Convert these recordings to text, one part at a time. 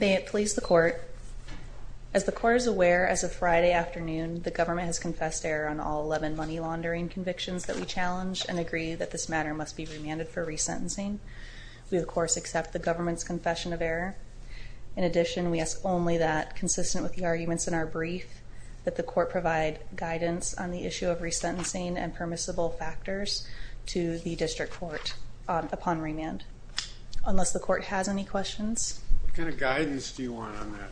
May it please the Court, As the Court is aware, as of Friday afternoon, the government has confessed error on all 11 money laundering convictions that we challenge and agree that this matter must be remanded for resentencing. We, of course, accept the government's confession of error. In addition, we ask only that, consistent with the arguments in our brief, that the Court provide guidance on the issue of resentencing and permissible factors to the District Court upon remand. Unless the Court has any questions? What kind of guidance do you want on that?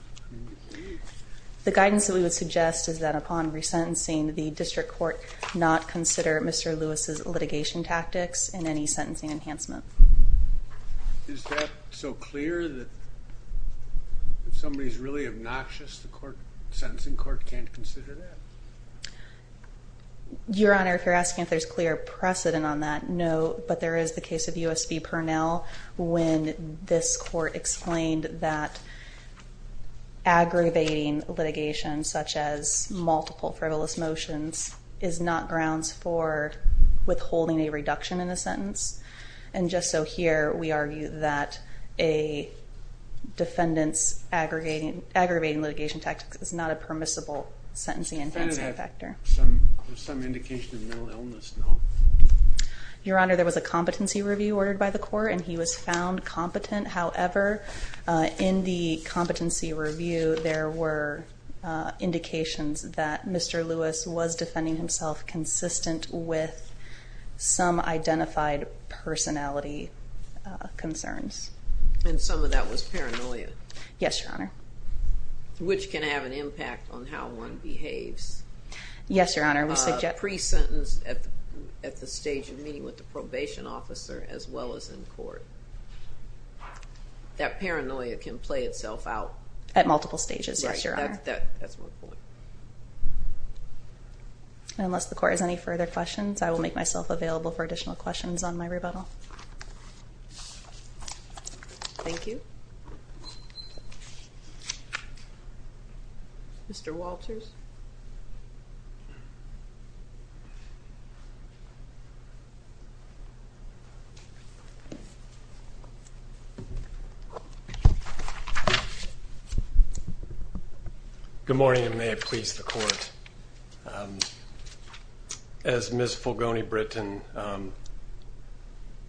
The guidance that we would suggest is that upon resentencing, the District Court not consider Mr. Lewis's litigation tactics and any sentencing enhancement. Is that so clear that somebody is really obnoxious, the Court, the Sentencing Court can't consider that? Your Honor, if you're asking if there's clear precedent on that, no, but there is the case of U.S. v. Purnell, when this Court explained that aggravating litigation, such as multiple frivolous motions, is not grounds for withholding a reduction in a sentence. And just so here, we argue that a defendant's aggravating litigation tactics is not a permissible sentencing enhancement factor. Does the defendant have some indication of mental illness, no? Your Honor, there was a competency review ordered by the Court, and he was found competent. However, in the competency review, there were indications that Mr. Lewis was defending himself consistent with some identified personality concerns. And some of that was paranoia? Yes, Your Honor. Which can have an impact on how one behaves. Yes, Your Honor. A pre-sentence at the stage of meeting with the probation officer, as well as in court. That paranoia can play itself out? At multiple stages, yes, Your Honor. That's one point. Unless the Court has any further questions, I will make myself available for additional questions on my rebuttal. Thank you. Mr. Walters? Good morning, and may it please the Court. As Ms. Fulgoni-Britton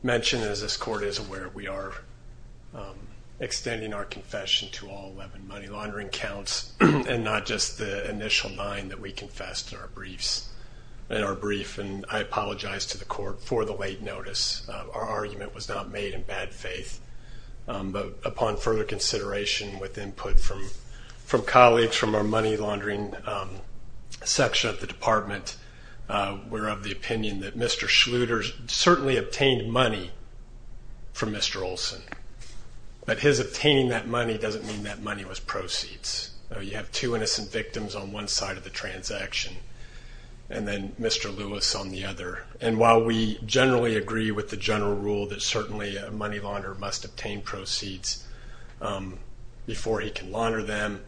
mentioned, as this Court is aware, we are extending our confession to all 11 money laundering counts, and not just the initial nine that we confessed in our briefs. And I apologize to the Court for the late notice. Our argument was not made in bad faith. But upon further consideration with input from colleagues from our money laundering section of the Department, we're of the opinion that Mr. Schluter certainly obtained money from Mr. Olson. But his obtaining that money doesn't mean that money was proceeds. You have two innocent victims on one side of the transaction, and then Mr. Lewis on the other. And while we generally agree with the general rule that certainly a money launderer must obtain proceeds before he can launder them,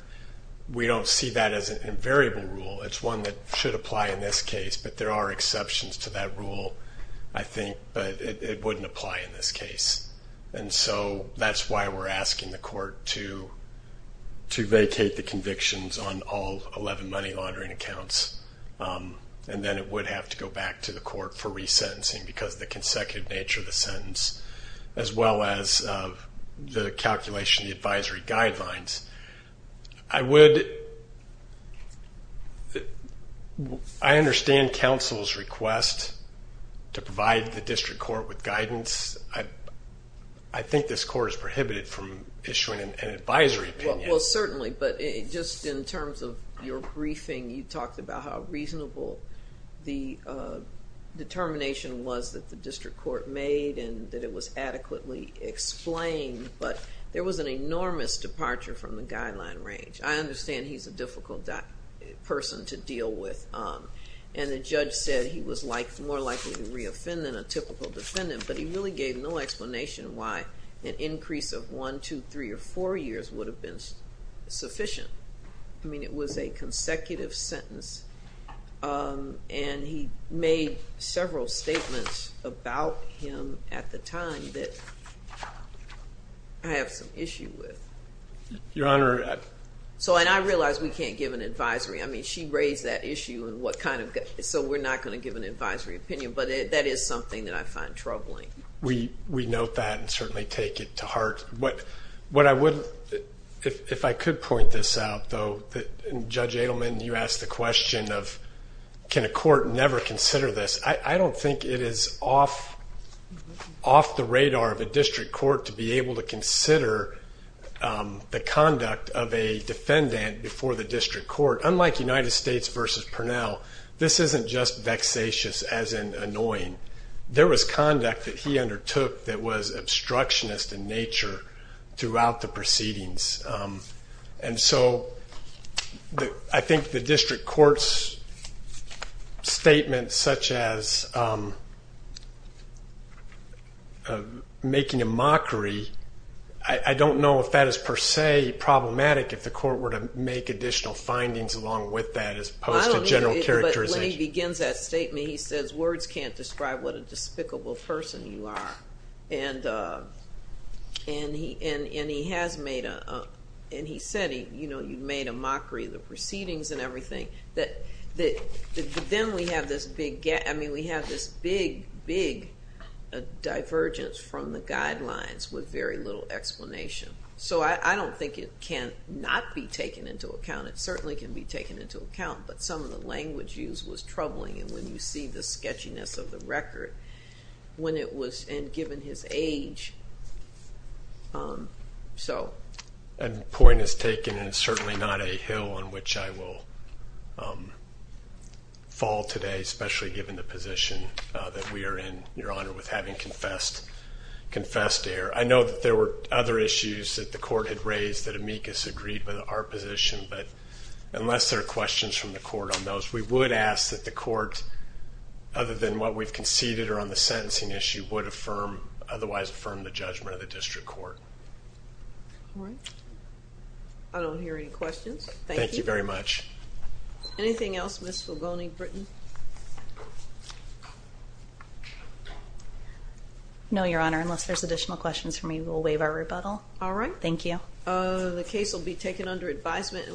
we don't see that as an invariable rule. It's one that should apply in this case. But there are exceptions to that rule, I think, but it wouldn't apply in this case. And so that's why we're asking the Court to vacate the convictions on all 11 money laundering accounts. And then it would have to go back to the Court for resentencing because of the consecutive nature of the sentence, as well as the calculation of the advisory guidelines. I understand counsel's request to provide the District Court with guidance. I think this Court is prohibited from issuing an advisory opinion. Well, certainly. But just in terms of your briefing, you talked about how reasonable the determination was that the District Court made and that it was adequately explained. But there was an enormous departure from the guideline range. I understand he's a difficult person to deal with. And the judge said he was more likely to reoffend than a typical defendant. But he really gave no explanation why an increase of one, two, three, or four years would have been sufficient. I mean, it was a consecutive sentence. And he made several statements about him at the time that I have some issue with. Your Honor. And I realize we can't give an advisory. I mean, she raised that issue, so we're not going to give an advisory opinion. But that is something that I find troubling. We note that and certainly take it to heart. If I could point this out, though, Judge Adelman, you asked the question of, can a court never consider this? I don't think it is off the radar of a District Court to be able to consider the conduct of a defendant before the District Court. Unlike United States v. Purnell, this isn't just vexatious, as in annoying. There was conduct that he undertook that was obstructionist in nature throughout the proceedings. And so I think the District Court's statement such as making a mockery, I don't know if that is per se problematic if the court were to make additional findings along with that as opposed to general characterization. When he begins that statement, he says, words can't describe what a despicable person you are. And he has made a mockery of the proceedings and everything. But then we have this big divergence from the guidelines with very little explanation. So I don't think it cannot be taken into account. It certainly can be taken into account. But some of the language used was troubling, and when you see the sketchiness of the record, when it was given his age. The point is taken, and it's certainly not a hill on which I will fall today, especially given the position that we are in, Your Honor, with having confessed here. I know that there were other issues that the court had raised that Amicus disagreed with our position. But unless there are questions from the court on those, we would ask that the court, other than what we've conceded or on the sentencing issue, would affirm, otherwise affirm the judgment of the District Court. All right. I don't hear any questions. Thank you very much. Anything else, Ms. Filboni, Britton? No, Your Honor, unless there's additional questions for me, we'll waive our rebuttal. All right. Thank you. The case will be taken under advisement.